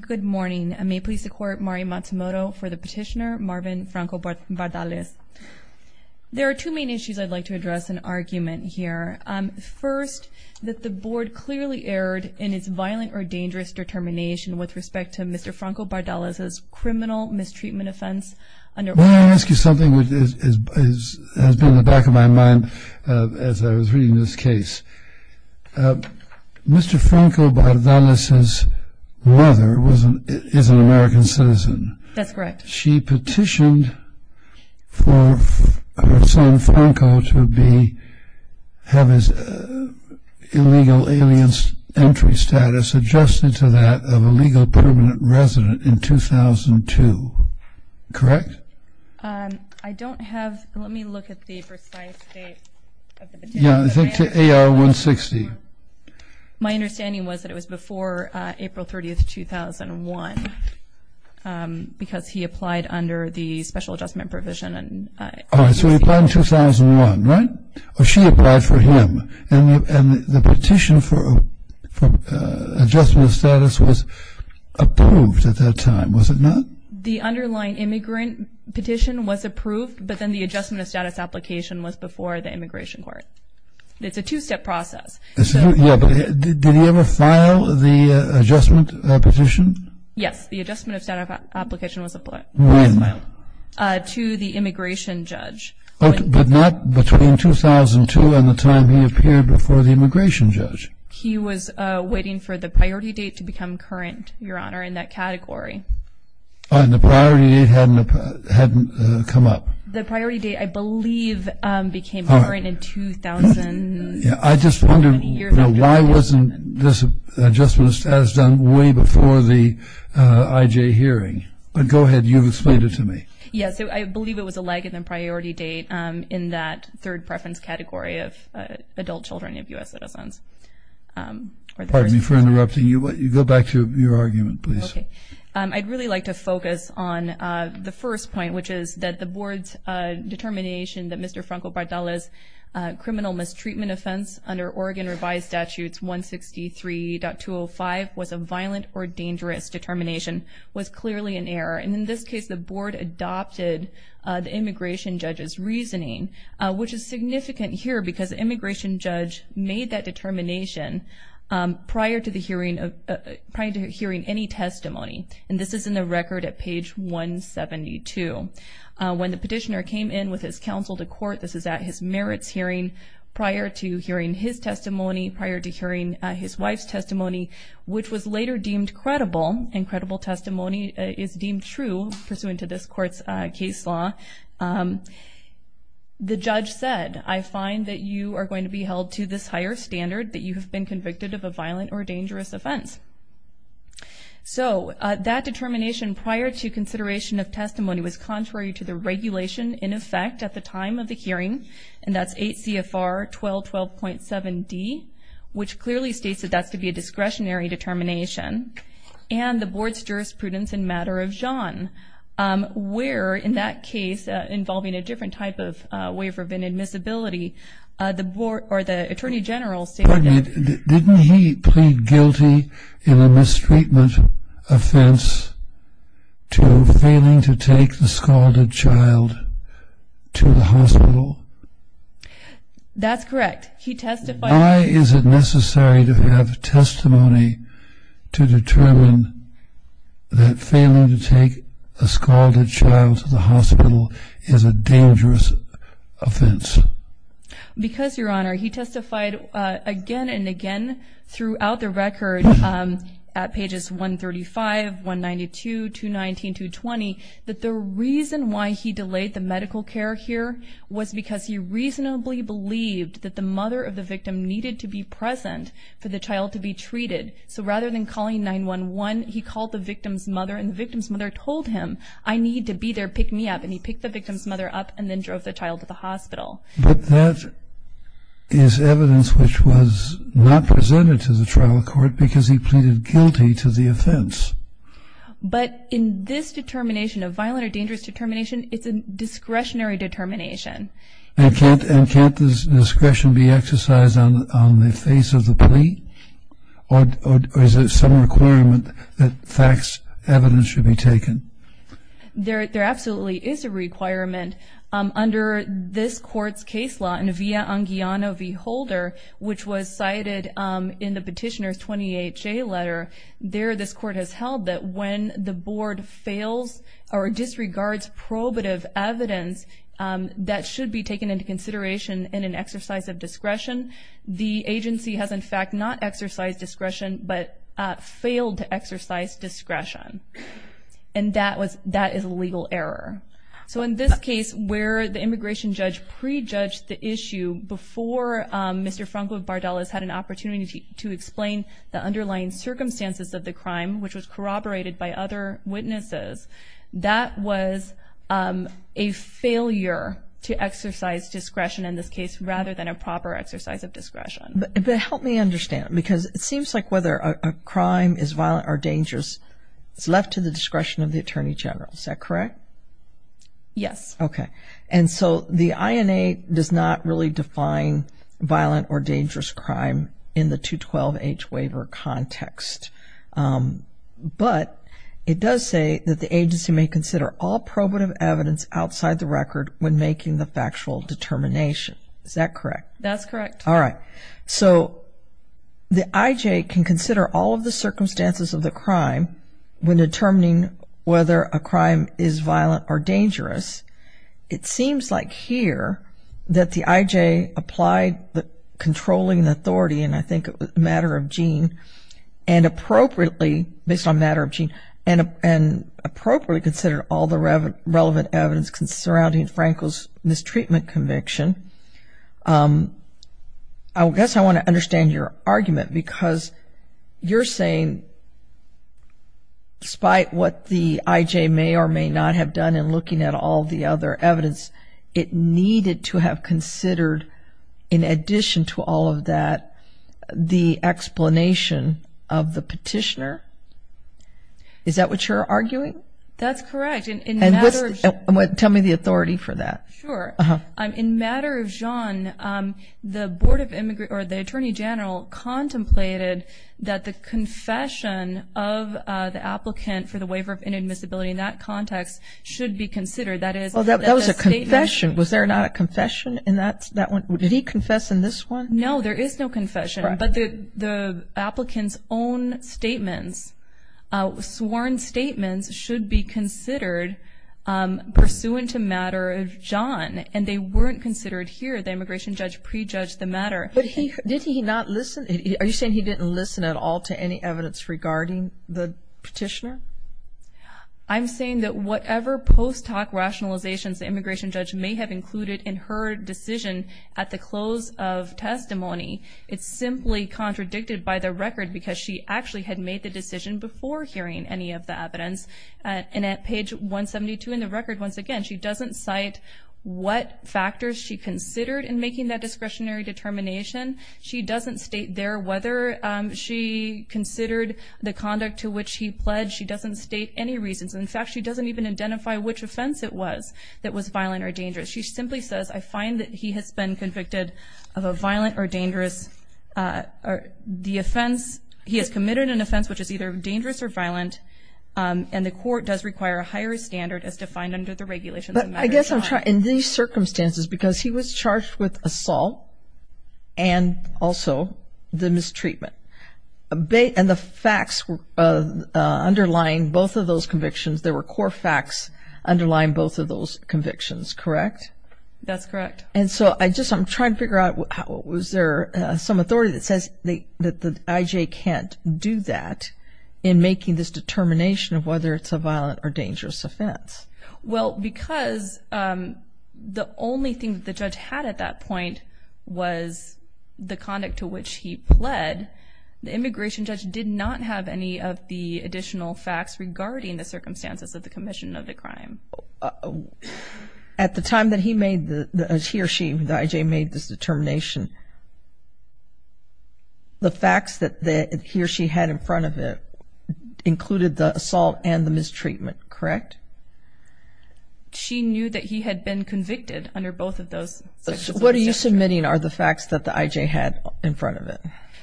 Good morning. I may please support Mari Matsumoto for the petitioner Marvin Franco-Bardales. There are two main issues I'd like to address in argument here. First, that the board clearly erred in its violent or dangerous determination with respect to Mr. Franco-Bardales' criminal mistreatment offense under— May I ask you something which has been in the back of my mind as I was reading this case? Mr. Franco-Bardales' mother is an American citizen. That's correct. She petitioned for her son Franco to have his illegal alien entry status adjusted to that of a legal permanent resident in 2002. Correct? I don't have—let me look at the precise date of the petition. Yeah, I think to AR-160. My understanding was that it was before April 30, 2001, because he applied under the special adjustment provision. All right, so he applied in 2001, right? Or she applied for him. And the petition for adjustment of status was approved at that time, was it not? The underlying immigrant petition was approved, but then the adjustment of status application was before the immigration court. It's a two-step process. Yeah, but did he ever file the adjustment petition? Yes, the adjustment of status application was applied. When? To the immigration judge. But not between 2002 and the time he appeared before the immigration judge? He was waiting for the priority date to become current, Your Honor, in that category. And the priority date hadn't come up? The priority date, I believe, became current in 2000. I just wonder why wasn't this adjustment of status done way before the IJ hearing? But go ahead, you've explained it to me. Yes, I believe it was a lag in the priority date in that third preference category of adult children of U.S. citizens. Pardon me for interrupting you. Go back to your argument, please. I'd really like to focus on the first point, which is that the board's determination that Mr. Franco Bardal's criminal mistreatment offense under Oregon revised statutes 163.205 was a violent or dangerous determination was clearly an error. And in this case, the board adopted the immigration judge's reasoning, which is significant here because the immigration judge made that determination prior to hearing any testimony. And this is in the record at page 172. When the petitioner came in with his counsel to court, this is at his merits hearing prior to hearing his testimony, prior to hearing his wife's testimony, which was later deemed credible. And credible testimony is deemed true pursuant to this court's case law. The judge said, I find that you are going to be held to this higher standard, that you have been convicted of a violent or dangerous offense. So that determination prior to consideration of testimony was contrary to the regulation in effect at the time of the hearing. And that's 8 CFR 1212.7D, which clearly states that that's to be a discretionary determination. And the board's jurisprudence in matter of John, where in that case, involving a different type of waiver of inadmissibility, the attorney general stated that- Pardon me, didn't he plead guilty in a mistreatment offense to failing to take the scalded child to the hospital? That's correct. He testified- Why is it necessary to have testimony to determine that failing to take a scalded child to the hospital is a dangerous offense? Because, Your Honor, he testified again and again throughout the record at pages 135, 192, 219, 220, that the reason why he delayed the medical care here was because he reasonably believed that the mother of the victim needed to be present for the child to be treated. So rather than calling 911, he called the victim's mother and the victim's mother told him, I need to be there, pick me up. And he picked the victim's mother up and then drove the child to the hospital. But that is evidence which was not presented to the trial court because he pleaded guilty to the offense. But in this determination, a violent or dangerous determination, it's a discretionary determination. And can't this discretion be exercised on the face of the plea? Or is there some requirement that facts, evidence should be taken? There absolutely is a requirement. Under this court's case law in Via Anguiano v. Holder, which was cited in the petitioner's 28-J letter, there this court has held that when the board fails or disregards probative evidence, that should be taken into consideration in an exercise of discretion. The agency has, in fact, not exercised discretion but failed to exercise discretion. And that is a legal error. So in this case where the immigration judge prejudged the issue before Mr. Franco Bardella's had an opportunity to explain the underlying circumstances of the crime, which was corroborated by other witnesses, that was a failure to exercise discretion in this case rather than a proper exercise of discretion. But help me understand, because it seems like whether a crime is violent or dangerous, it's left to the discretion of the attorney general. Is that correct? Yes. Okay. And so the INA does not really define violent or dangerous crime in the 212H waiver context. But it does say that the agency may consider all probative evidence outside the record when making the factual determination. Is that correct? That's correct. All right. So the IJ can consider all of the circumstances of the crime when determining whether a crime is violent or dangerous. It seems like here that the IJ applied the controlling authority, and I think it was a matter of gene, and appropriately, based on a matter of gene, and appropriately considered all the relevant evidence surrounding Franco's mistreatment conviction. I guess I want to understand your argument, because you're saying, despite what the IJ may or may not have done in looking at all the other evidence, it needed to have considered, in addition to all of that, the explanation of the petitioner. Is that what you're arguing? That's correct. Tell me the authority for that. Sure. In matter of genre, the Attorney General contemplated that the confession of the applicant for the waiver of inadmissibility in that context should be considered. That was a confession. Was there not a confession in that one? Did he confess in this one? No, there is no confession, but the applicant's own statements, sworn statements, should be considered pursuant to matter of genre, and they weren't considered here. The immigration judge prejudged the matter. Did he not listen? Are you saying he didn't listen at all to any evidence regarding the petitioner? I'm saying that whatever post hoc rationalizations the immigration judge may have included in her decision at the close of testimony, it's simply contradicted by the record, because she actually had made the decision before hearing any of the evidence. And at page 172 in the record, once again, she doesn't cite what factors she considered in making that discretionary determination. She doesn't state there whether she considered the conduct to which he pledged. She doesn't state any reasons. In fact, she doesn't even identify which offense it was that was violent or dangerous. She simply says, I find that he has been convicted of a violent or dangerous, the offense, he has committed an offense which is either dangerous or violent, and the court does require a higher standard as defined under the regulations of matter of genre. But I guess I'm trying, in these circumstances, because he was charged with assault and also the mistreatment, and the facts underlying both of those convictions, there were core facts underlying both of those convictions, correct? That's correct. And so I just, I'm trying to figure out, was there some authority that says that the IJ can't do that in making this determination of whether it's a violent or dangerous offense? Well, because the only thing that the judge had at that point was the conduct to which he pled, the immigration judge did not have any of the additional facts regarding the circumstances of the commission of the crime. At the time that he made the, he or she, the IJ made this determination, the facts that he or she had in front of it included the assault and the mistreatment, correct? She knew that he had been convicted under both of those circumstances. So what are you submitting are the facts that the IJ had in front of it?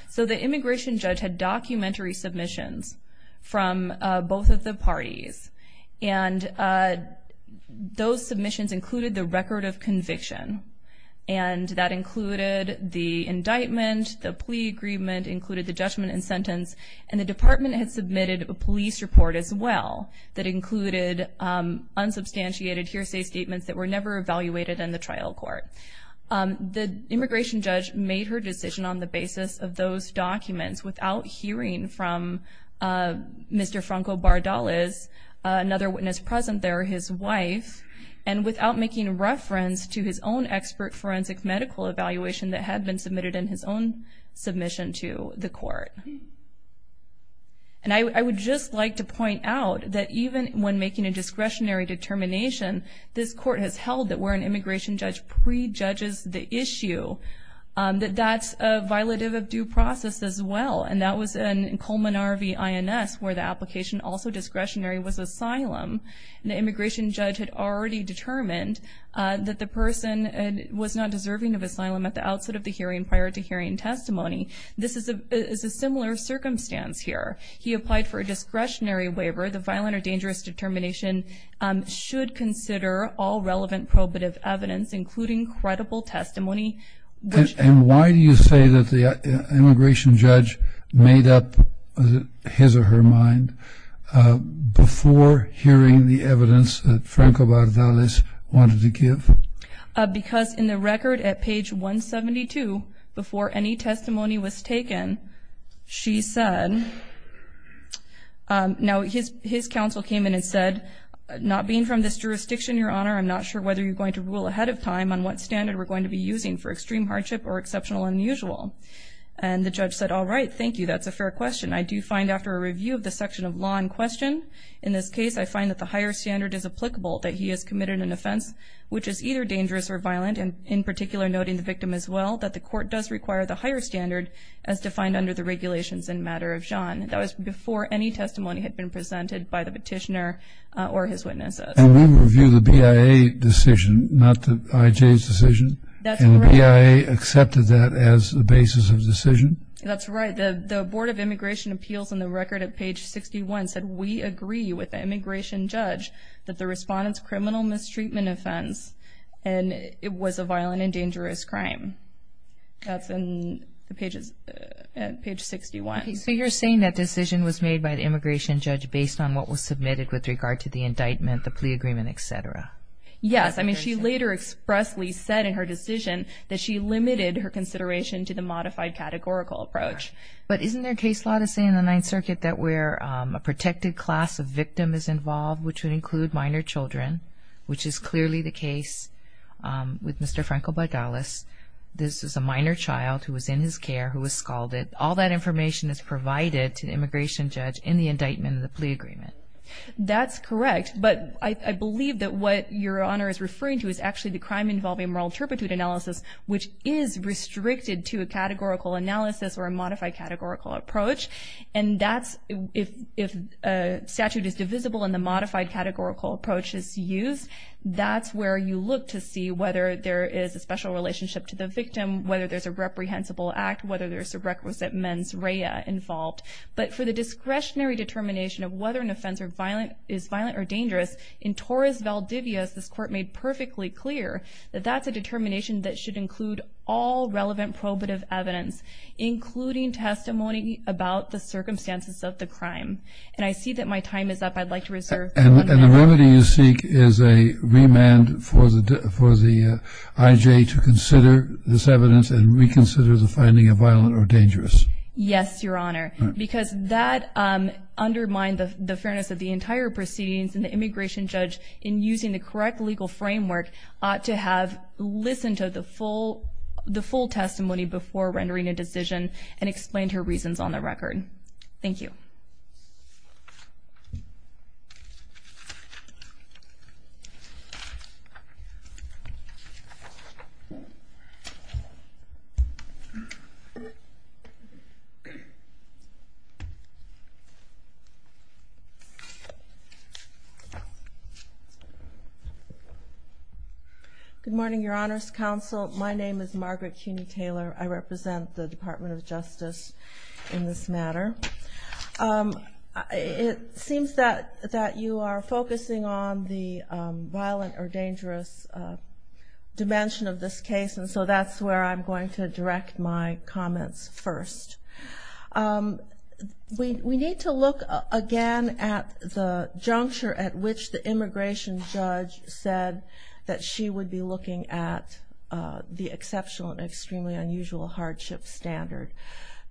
So the immigration judge had documentary submissions from both of the parties, and those submissions included the record of conviction, and that included the indictment, the plea agreement, included the judgment and sentence, and the department had submitted a police report as well that included unsubstantiated hearsay statements that were never evaluated in the trial court. The immigration judge made her decision on the basis of those documents without hearing from Mr. Franco Bardales, another witness present there, his wife, and without making reference to his own expert forensic medical evaluation that had been submitted in his own submission to the court. And I would just like to point out that even when making a discretionary determination, this court has held that where an immigration judge prejudges the issue, that that's a violative of due process as well, and that was in Coleman RV INS where the application also discretionary was asylum, and the immigration judge had already determined that the person was not deserving of asylum at the outset of the hearing prior to hearing testimony. This is a similar circumstance here. He applied for a discretionary waiver. The violent or dangerous determination should consider all relevant probative evidence, including credible testimony. And why do you say that the immigration judge made up his or her mind before hearing the evidence that Franco Bardales wanted to give? Because in the record at page 172, before any testimony was taken, she said, now his counsel came in and said, not being from this jurisdiction, Your Honor, I'm not sure whether you're going to rule ahead of time on what standard we're going to be using for extreme hardship or exceptional unusual. And the judge said, all right, thank you, that's a fair question. I do find after a review of the section of law in question, in this case, I find that the higher standard is applicable, that he has committed an offense which is either dangerous or violent, and in particular noting the victim as well, that the court does require the higher standard as defined under the regulations in matter of John. That was before any testimony had been presented by the petitioner or his witnesses. And we review the BIA decision, not the IJ's decision. And the BIA accepted that as the basis of the decision? That's right. The Board of Immigration Appeals in the record at page 61 said, we agree with the immigration judge that the respondent's criminal mistreatment offense was a violent and dangerous crime. That's in page 61. So you're saying that decision was made by the immigration judge based on what was submitted with regard to the indictment, the plea agreement, et cetera? Yes. I mean, she later expressly said in her decision that she limited her consideration to the modified categorical approach. But isn't there case law to say in the Ninth Circuit that where a protected class of victim is involved, which would include minor children, which is clearly the case with Mr. Franco-Bogdalas, this is a minor child who was in his care who was scalded, all that information is provided to the immigration judge in the indictment of the plea agreement? That's correct. But I believe that what Your Honor is referring to is actually the crime involving moral turpitude analysis, which is restricted to a categorical analysis or a modified categorical approach. And that's if a statute is divisible and the modified categorical approach is used, that's where you look to see whether there is a special relationship to the victim, whether there's a reprehensible act, whether there's a requisite mens rea involved. But for the discretionary determination of whether an offense is violent or dangerous, in Torres Valdivia, as this Court made perfectly clear, that that's a determination that should include all relevant probative evidence, including testimony about the circumstances of the crime. And I see that my time is up. I'd like to reserve one minute. And the remedy you seek is a remand for the IJ to consider this evidence and reconsider the finding of violent or dangerous? Yes, Your Honor. Because that undermined the fairness of the entire proceedings, and the immigration judge, in using the correct legal framework, ought to have listened to the full testimony before rendering a decision and explained her reasons on the record. Thank you. Good morning, Your Honor's counsel. My name is Margaret Cuney Taylor. I represent the Department of Justice in this matter. It seems that you are focusing on the violent or dangerous dimension of this case, and so that's where I'm going to direct my comments first. We need to look again at the juncture at which the immigration judge said that she would be looking at the exceptional and extremely unusual hardship standard.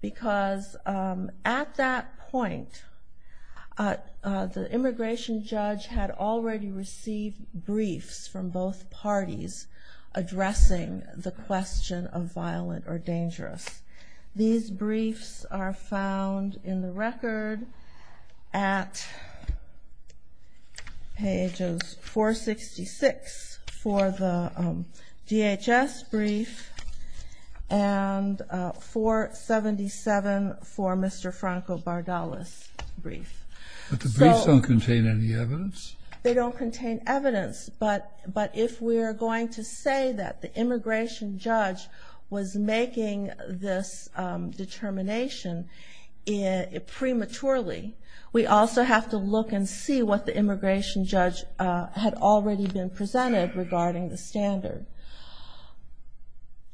Because at that point, the immigration judge had already received briefs from both parties addressing the question of violent or dangerous. These briefs are found in the record at pages 466 for the DHS brief and 477 for Mr. Franco Bardalis' brief. But the briefs don't contain any evidence? They don't contain evidence. But if we are going to say that the immigration judge was making this determination prematurely, we also have to look and see what the immigration judge had already been presented regarding the standard.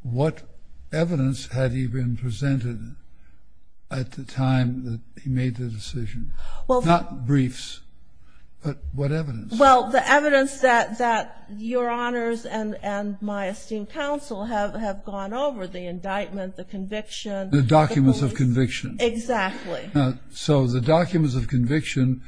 What evidence had he been presented at the time that he made the decision? Not briefs, but what evidence? Well, the evidence that Your Honors and my esteemed counsel have gone over, the indictment, the conviction. The documents of conviction. Exactly. So the documents of conviction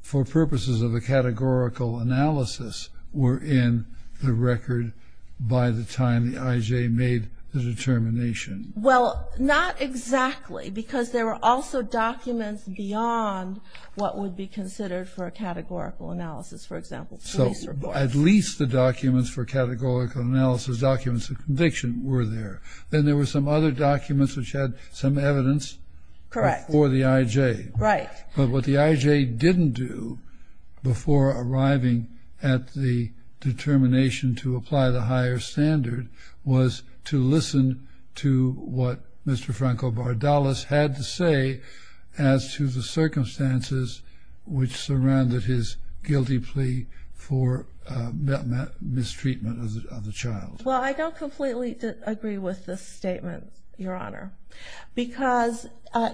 for purposes of a categorical analysis were in the record by the time the IJ made the determination. Well, not exactly, because there were also documents beyond what would be considered for a categorical analysis. For example, police reports. So at least the documents for categorical analysis, documents of conviction, were there. Then there were some other documents which had some evidence before the IJ. Correct. Right. But what the IJ didn't do before arriving at the determination to apply the higher standard was to listen to what Mr. Franco Bardalis had to say as to the circumstances which surrounded his guilty plea for mistreatment of the child. Well, I don't completely agree with this statement, Your Honor, because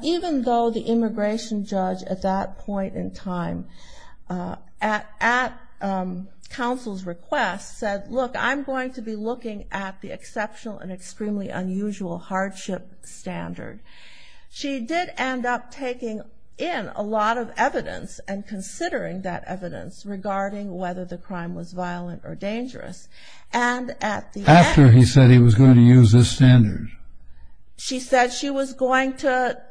even though the immigration judge at that point in time at counsel's request said, look, I'm going to be looking at the exceptional and extremely unusual hardship standard, she did end up taking in a lot of evidence and considering that evidence regarding whether the crime was violent or dangerous. After he said he was going to use this standard? She said she was going to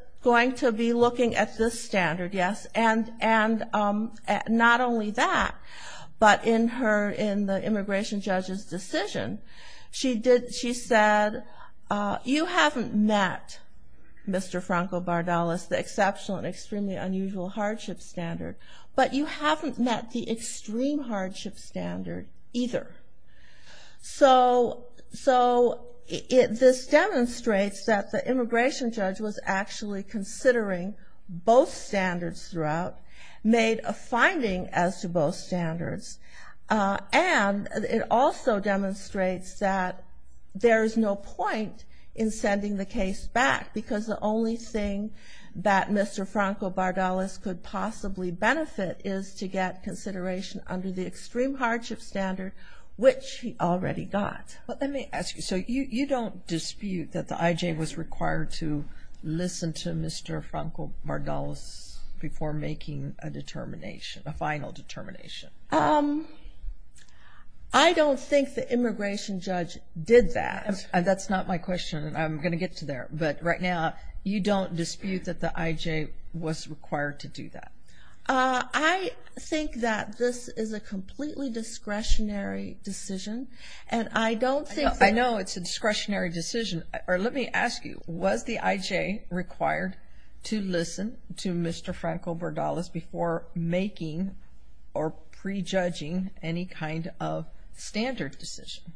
be looking at this standard, yes. And not only that, but in the immigration judge's decision, she said you haven't met, Mr. Franco Bardalis, the exceptional and extremely unusual hardship standard, but you haven't met the extreme hardship standard either. So this demonstrates that the immigration judge was actually considering both standards throughout, made a finding as to both standards, and it also demonstrates that there is no point in sending the case back, because the only thing that Mr. Franco Bardalis could possibly benefit is to get consideration under the extreme hardship standard, which he already got. Let me ask you. So you don't dispute that the IJ was required to listen to Mr. Franco Bardalis before making a determination, a final determination? I don't think the immigration judge did that. That's not my question. I'm going to get to there. But right now, you don't dispute that the IJ was required to do that? I think that this is a completely discretionary decision, and I don't think that. I know it's a discretionary decision. Or let me ask you, was the IJ required to listen to Mr. Franco Bardalis before making or prejudging any kind of standard decision?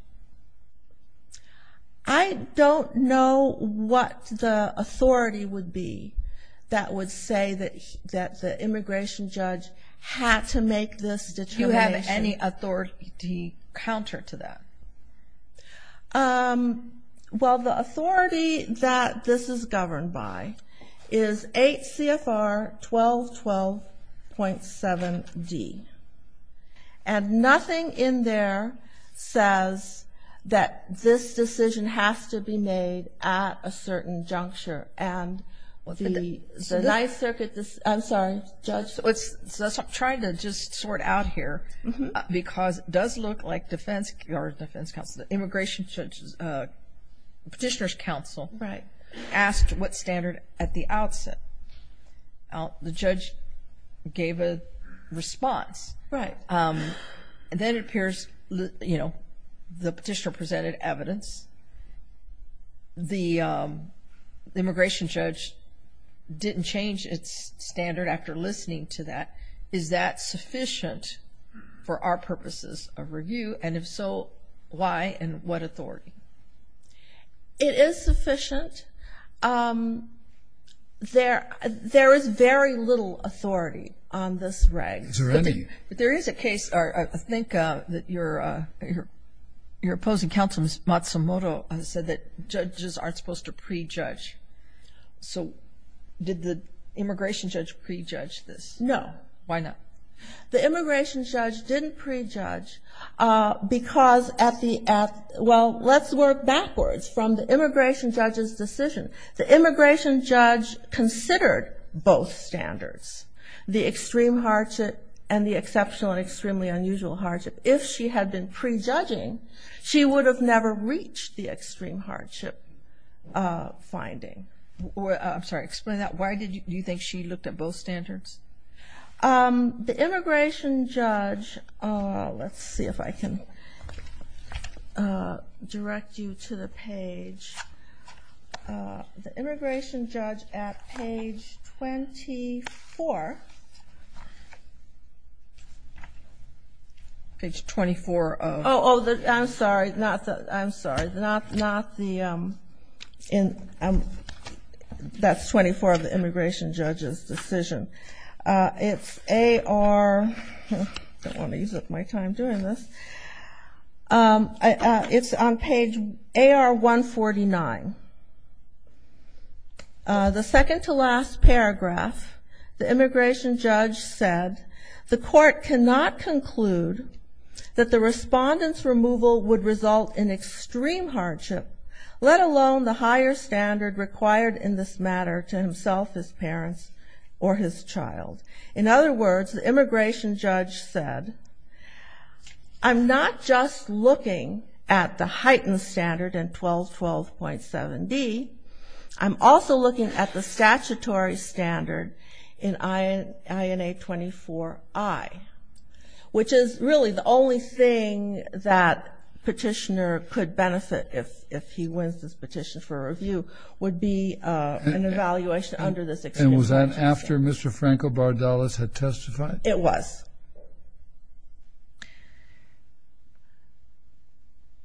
I don't know what the authority would be that would say that the immigration judge had to make this determination. Do you have any authority counter to that? Well, the authority that this is governed by is 8 CFR 1212.7D, and nothing in there says that this decision has to be made at a certain juncture. And the Ninth Circuit, I'm sorry, Judge? I'm trying to just sort out here because it does look like defense counsel, the immigration judge's petitioner's counsel asked what standard at the outset. The judge gave a response. Right. And then it appears, you know, the petitioner presented evidence. The immigration judge didn't change its standard after listening to that. Is that sufficient for our purposes of review? And if so, why and what authority? It is sufficient. There is very little authority on this reg. Is there any? But there is a case, I think, that your opposing counsel, Ms. Matsumoto, said that judges aren't supposed to prejudge. So did the immigration judge prejudge this? No. Why not? The immigration judge didn't prejudge because at the end, well, let's work backwards from the immigration judge's decision. The immigration judge considered both standards, the extreme hardship and the exceptional and extremely unusual hardship. If she had been prejudging, she would have never reached the extreme hardship finding. I'm sorry. Explain that. Why did you think she looked at both standards? The immigration judge, let's see if I can. Direct you to the page. The immigration judge at page 24. Page 24 of. Oh, I'm sorry. Not the. I'm sorry. Not the. That's 24 of the immigration judge's decision. It's AR. I don't want to use up my time doing this. It's on page AR149. The second to last paragraph, the immigration judge said, the court cannot conclude that the respondent's removal would result in extreme hardship, let alone the higher standard required in this matter to himself, his parents, or his child. In other words, the immigration judge said, I'm not just looking at the heightened standard in 1212.7D. I'm also looking at the statutory standard in INA24I, which is really the only thing that petitioner could benefit if he wins this extreme hardship. And was that after Mr. Franco Bardalis had testified? It was.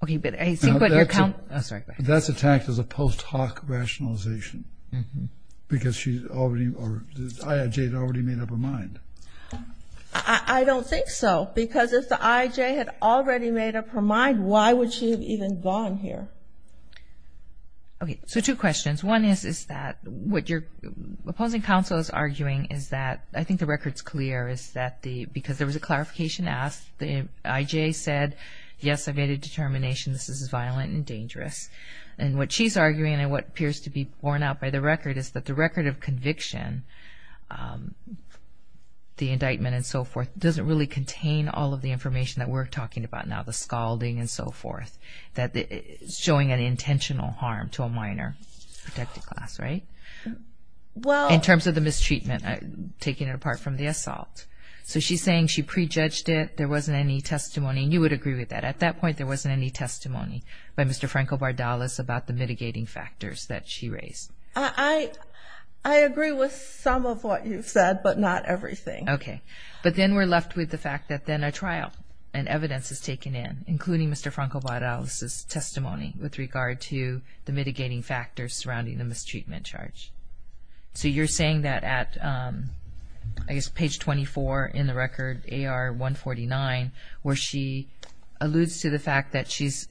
Okay, but I think what you're. That's attacked as a post hoc rationalization because she's already, or the IIJ had already made up her mind. I don't think so because if the IIJ had already made up her mind, why would she have even gone here? Okay, so two questions. One is that what your opposing counsel is arguing is that, I think the record's clear, is that because there was a clarification asked, the IJ said, yes, I've made a determination. This is violent and dangerous. And what she's arguing and what appears to be borne out by the record is that the record of conviction, the indictment and so forth, doesn't really contain all of the information that we're talking about now, the scalding and so forth, showing an intentional harm to a minor protected class, right? Well. In terms of the mistreatment, taking it apart from the assault. So she's saying she prejudged it, there wasn't any testimony. And you would agree with that. At that point, there wasn't any testimony by Mr. Franco Bardalis about the mitigating factors that she raised. I agree with some of what you've said, but not everything. Okay. But then we're left with the fact that then a trial and evidence is taken in, including Mr. Franco Bardalis' testimony with regard to the mitigating factors surrounding the mistreatment charge. So you're saying that at, I guess, page 24 in the record, AR149, where she alludes to the fact that she's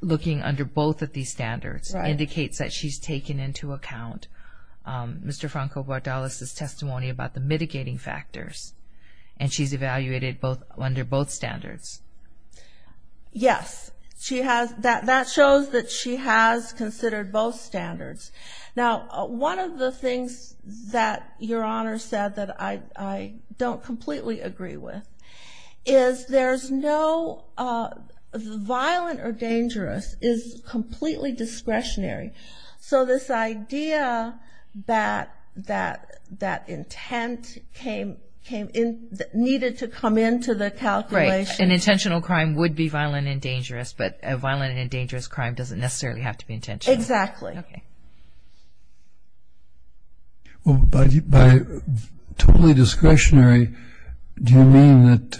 looking under both of these standards, indicates that she's taken into account Mr. Franco Bardalis' testimony about the mitigating factors, and she's evaluated under both standards. Yes. That shows that she has considered both standards. Now, one of the things that Your Honor said that I don't completely agree with is there's no violent or dangerous is completely discretionary. So this idea that intent needed to come into the calculation. Right. An intentional crime would be violent and dangerous, but a violent and dangerous crime doesn't necessarily have to be intentional. Exactly. Okay. By totally discretionary, do you mean that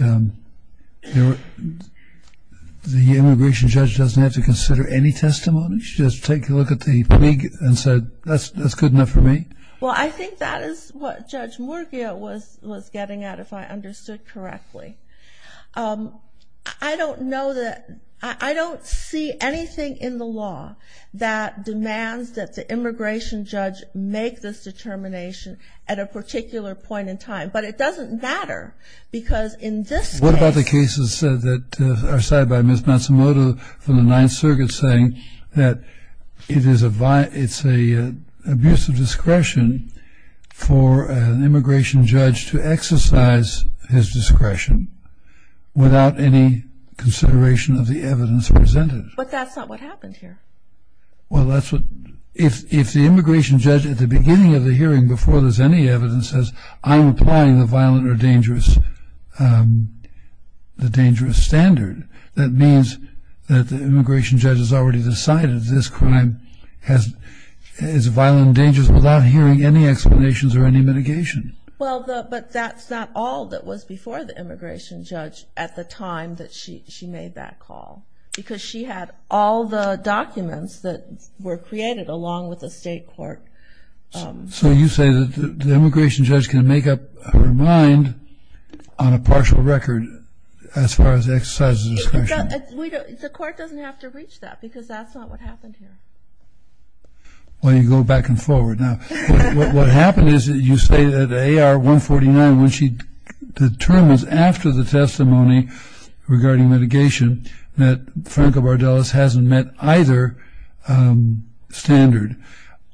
the immigration judge doesn't have to consider any testimony? She doesn't take a look at the plea and say, that's good enough for me? Well, I think that is what Judge Murguia was getting at, if I understood correctly. I don't know that – I don't see anything in the law that demands that the immigration judge make this determination at a particular point in time. But it doesn't matter, because in this case – What about the cases that are cited by Ms. Matsumoto from the Ninth Circuit saying that it's an abuse of discretion for an immigration judge to exercise his discretion without any consideration of the evidence presented? But that's not what happened here. Well, that's what – if the immigration judge at the beginning of the hearing, before there's any evidence, says, I'm applying the violent or dangerous standard, that means that the immigration judge has already decided this crime is violent and dangerous without hearing any explanations or any mitigation. Well, but that's not all that was before the immigration judge at the time that she made that call, because she had all the documents that were created along with the state court. So you say that the immigration judge can make up her mind on a partial record as far as exercising discretion? The court doesn't have to reach that, because that's not what happened here. Well, you go back and forward now. What happened is that you say that AR 149, when she determines after the testimony regarding mitigation that Franco Bardellas hasn't met either standard,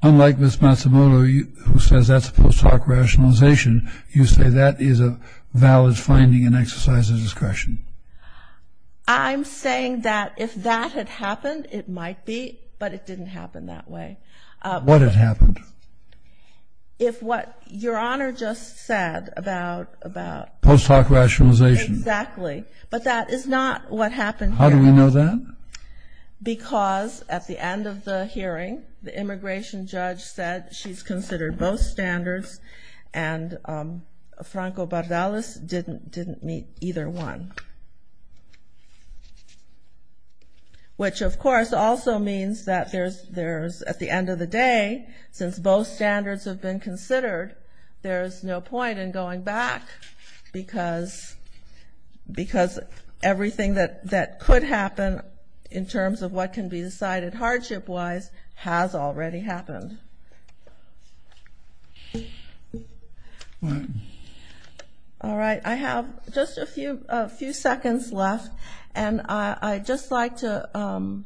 unlike Ms. Matsumoto who says that's post hoc rationalization, you say that is a valid finding and exercise of discretion? I'm saying that if that had happened, it might be, but it didn't happen that way. What had happened? If what Your Honor just said about – Post hoc rationalization. Exactly. But that is not what happened here. How do we know that? Because at the end of the hearing, the immigration judge said she's considered both standards and Franco Bardellas didn't meet either one. Which, of course, also means that at the end of the day, since both standards have been considered, there's no point in going back because everything that could happen in terms of what can be decided hardship-wise has already happened. All right. I have just a few seconds left, and I'd just like to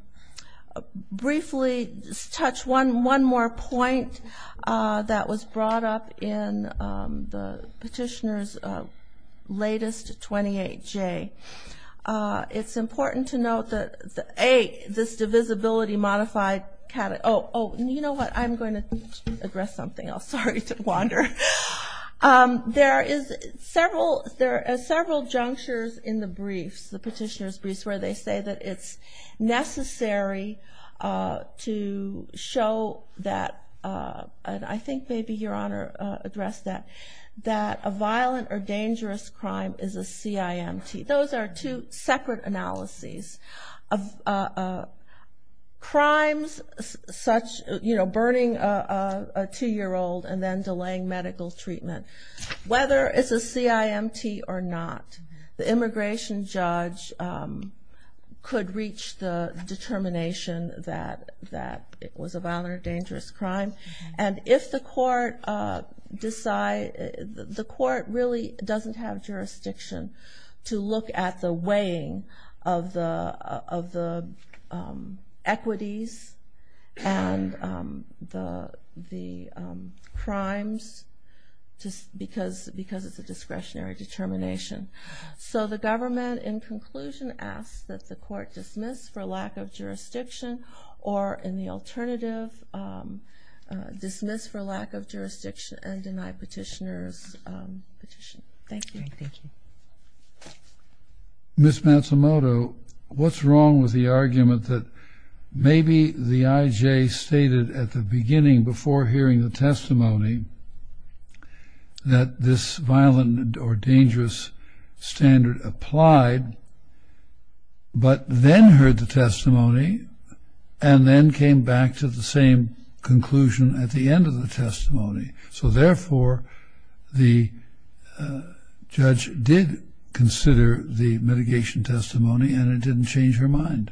briefly touch one more point that was brought up in the petitioner's latest 28J. It's important to note that, A, this divisibility modified – oh, you know what? I'm going to address something else. Sorry to wander. There are several junctures in the briefs, the petitioner's briefs, where they say that it's necessary to show that – and I think maybe Your Honor addressed that – that a violent or dangerous crime is a CIMT. Those are two separate analyses. Crimes such – you know, burning a 2-year-old and then delaying medical treatment, whether it's a CIMT or not, the immigration judge could reach the determination that it was a violent or dangerous crime. And if the court – the court really doesn't have jurisdiction to look at the weighing of the equities and the crimes because it's a discretionary determination. So the government, in conclusion, asks that the court dismiss for lack of jurisdiction or, in the alternative, dismiss for lack of jurisdiction and deny petitioner's petition. Thank you. Thank you. Ms. Matsumoto, what's wrong with the argument that maybe the IJ stated at the beginning before hearing the testimony that this violent or dangerous standard applied but then heard the testimony and then came back to the same conclusion at the end of the testimony? So, therefore, the judge did consider the mitigation testimony and it didn't change her mind?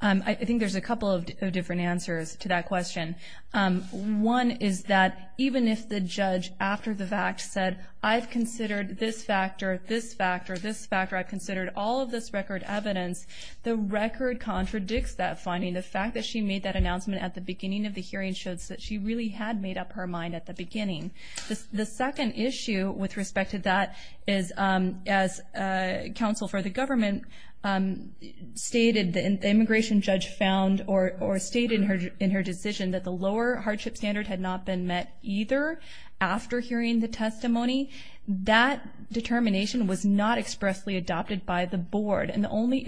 I think there's a couple of different answers to that question. One is that even if the judge, after the fact, said, I've considered this factor, this factor, this factor, I've considered all of this record evidence, the record contradicts that finding. The fact that she made that announcement at the beginning of the hearing shows that she really had made up her mind at the beginning. The second issue with respect to that is, as counsel for the government stated, the immigration judge found or stated in her decision that the lower hardship standard had not been met either after hearing the testimony. That determination was not expressly adopted by the board and the only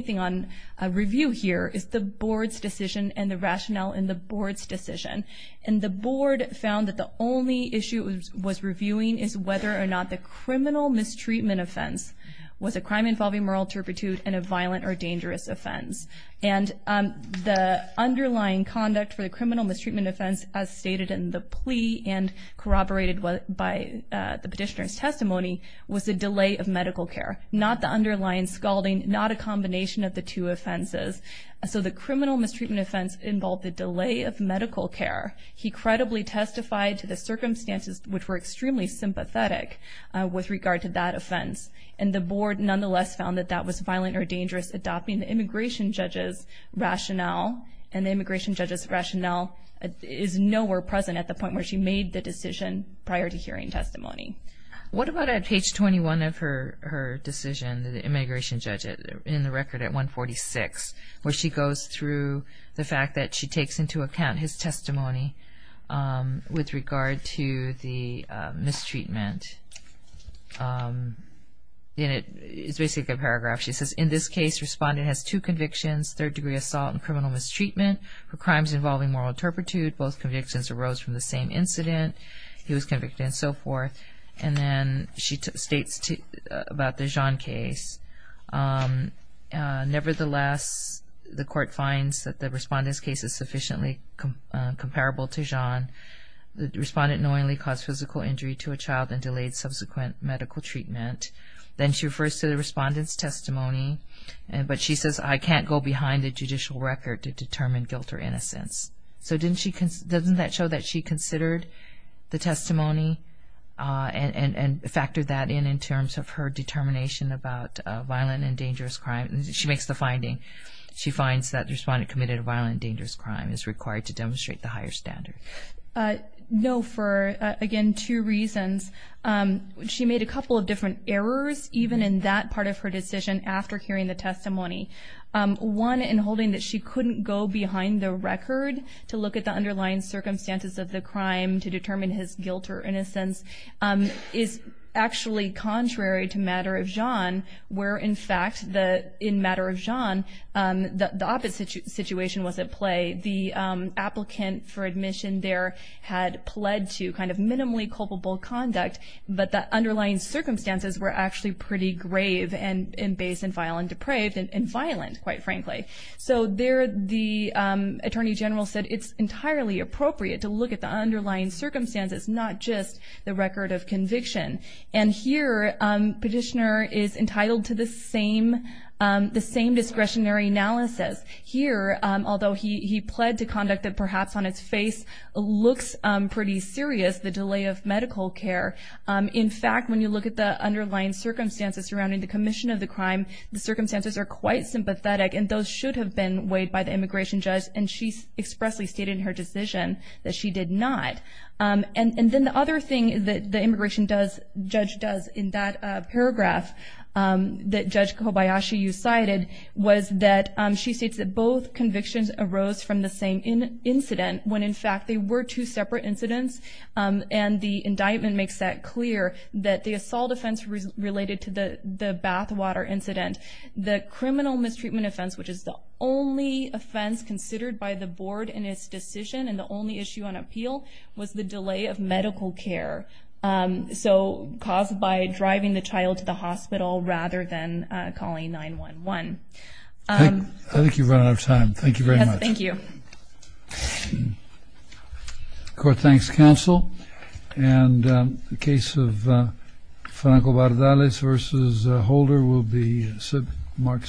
thing on review here is the board's decision and the rationale in the board's decision. And the board found that the only issue it was reviewing is whether or not the criminal mistreatment offense was a crime involving moral turpitude and a violent or dangerous offense. And the underlying conduct for the criminal mistreatment offense, as stated in the plea and corroborated by the petitioner's testimony, was a delay of medical care. Not the underlying scalding, not a combination of the two offenses. So the criminal mistreatment offense involved a delay of medical care. He credibly testified to the circumstances, which were extremely sympathetic with regard to that offense. And the board nonetheless found that that was violent or dangerous, adopting the immigration judge's rationale and the immigration judge's rationale is nowhere present at the point where she made the decision prior to hearing testimony. What about at page 21 of her decision, the immigration judge in the record at 146, where she goes through the fact that she takes into account his testimony with regard to the mistreatment? It's basically a paragraph. She says, in this case, respondent has two convictions, third degree assault and criminal mistreatment for crimes involving moral turpitude. Both convictions arose from the same incident. He was convicted and so forth. And then she states about the John case. Nevertheless, the court finds that the respondent's case is sufficiently comparable to John. The respondent knowingly caused physical injury to a child and delayed subsequent medical treatment. Then she refers to the respondent's testimony, but she says, I can't go behind the judicial record to determine guilt or innocence. So doesn't that show that she considered the testimony and factored that in in terms of her determination about violent and dangerous crime? She makes the finding. She finds that the respondent committed a violent and dangerous crime is required to demonstrate the higher standard. No, for, again, two reasons. She made a couple of different errors even in that part of her decision after hearing the testimony. One in holding that she couldn't go behind the record to look at the underlying circumstances of the crime to determine his guilt or innocence is actually contrary to matter of John, where, in fact, in matter of John, the opposite situation was at play. The applicant for admission there had pled to kind of minimally culpable conduct, but the underlying circumstances were actually pretty grave and base and vile and depraved and violent, quite frankly. So there the attorney general said it's entirely appropriate to look at the underlying circumstances, not just the record of conviction. And here Petitioner is entitled to the same discretionary analysis. Here, although he pled to conduct that perhaps on its face looks pretty serious, the delay of medical care, in fact, when you look at the underlying circumstances surrounding the commission of the crime, the circumstances are quite sympathetic, and those should have been weighed by the immigration judge, and she expressly stated in her decision that she did not. And then the other thing that the immigration judge does in that paragraph that Judge Kobayashi, you cited, was that she states that both convictions arose from the same incident, when in fact they were two separate incidents. And the indictment makes that clear, that the assault offense related to the bathwater incident. The criminal mistreatment offense, which is the only offense considered by the board in its decision and the only issue on appeal, was the delay of medical care. So caused by driving the child to the hospital rather than calling 911. I think you've run out of time. Thank you very much. Yes, thank you. Court thanks counsel. And the case of Franco Bardales v. Holder will be marked submitted.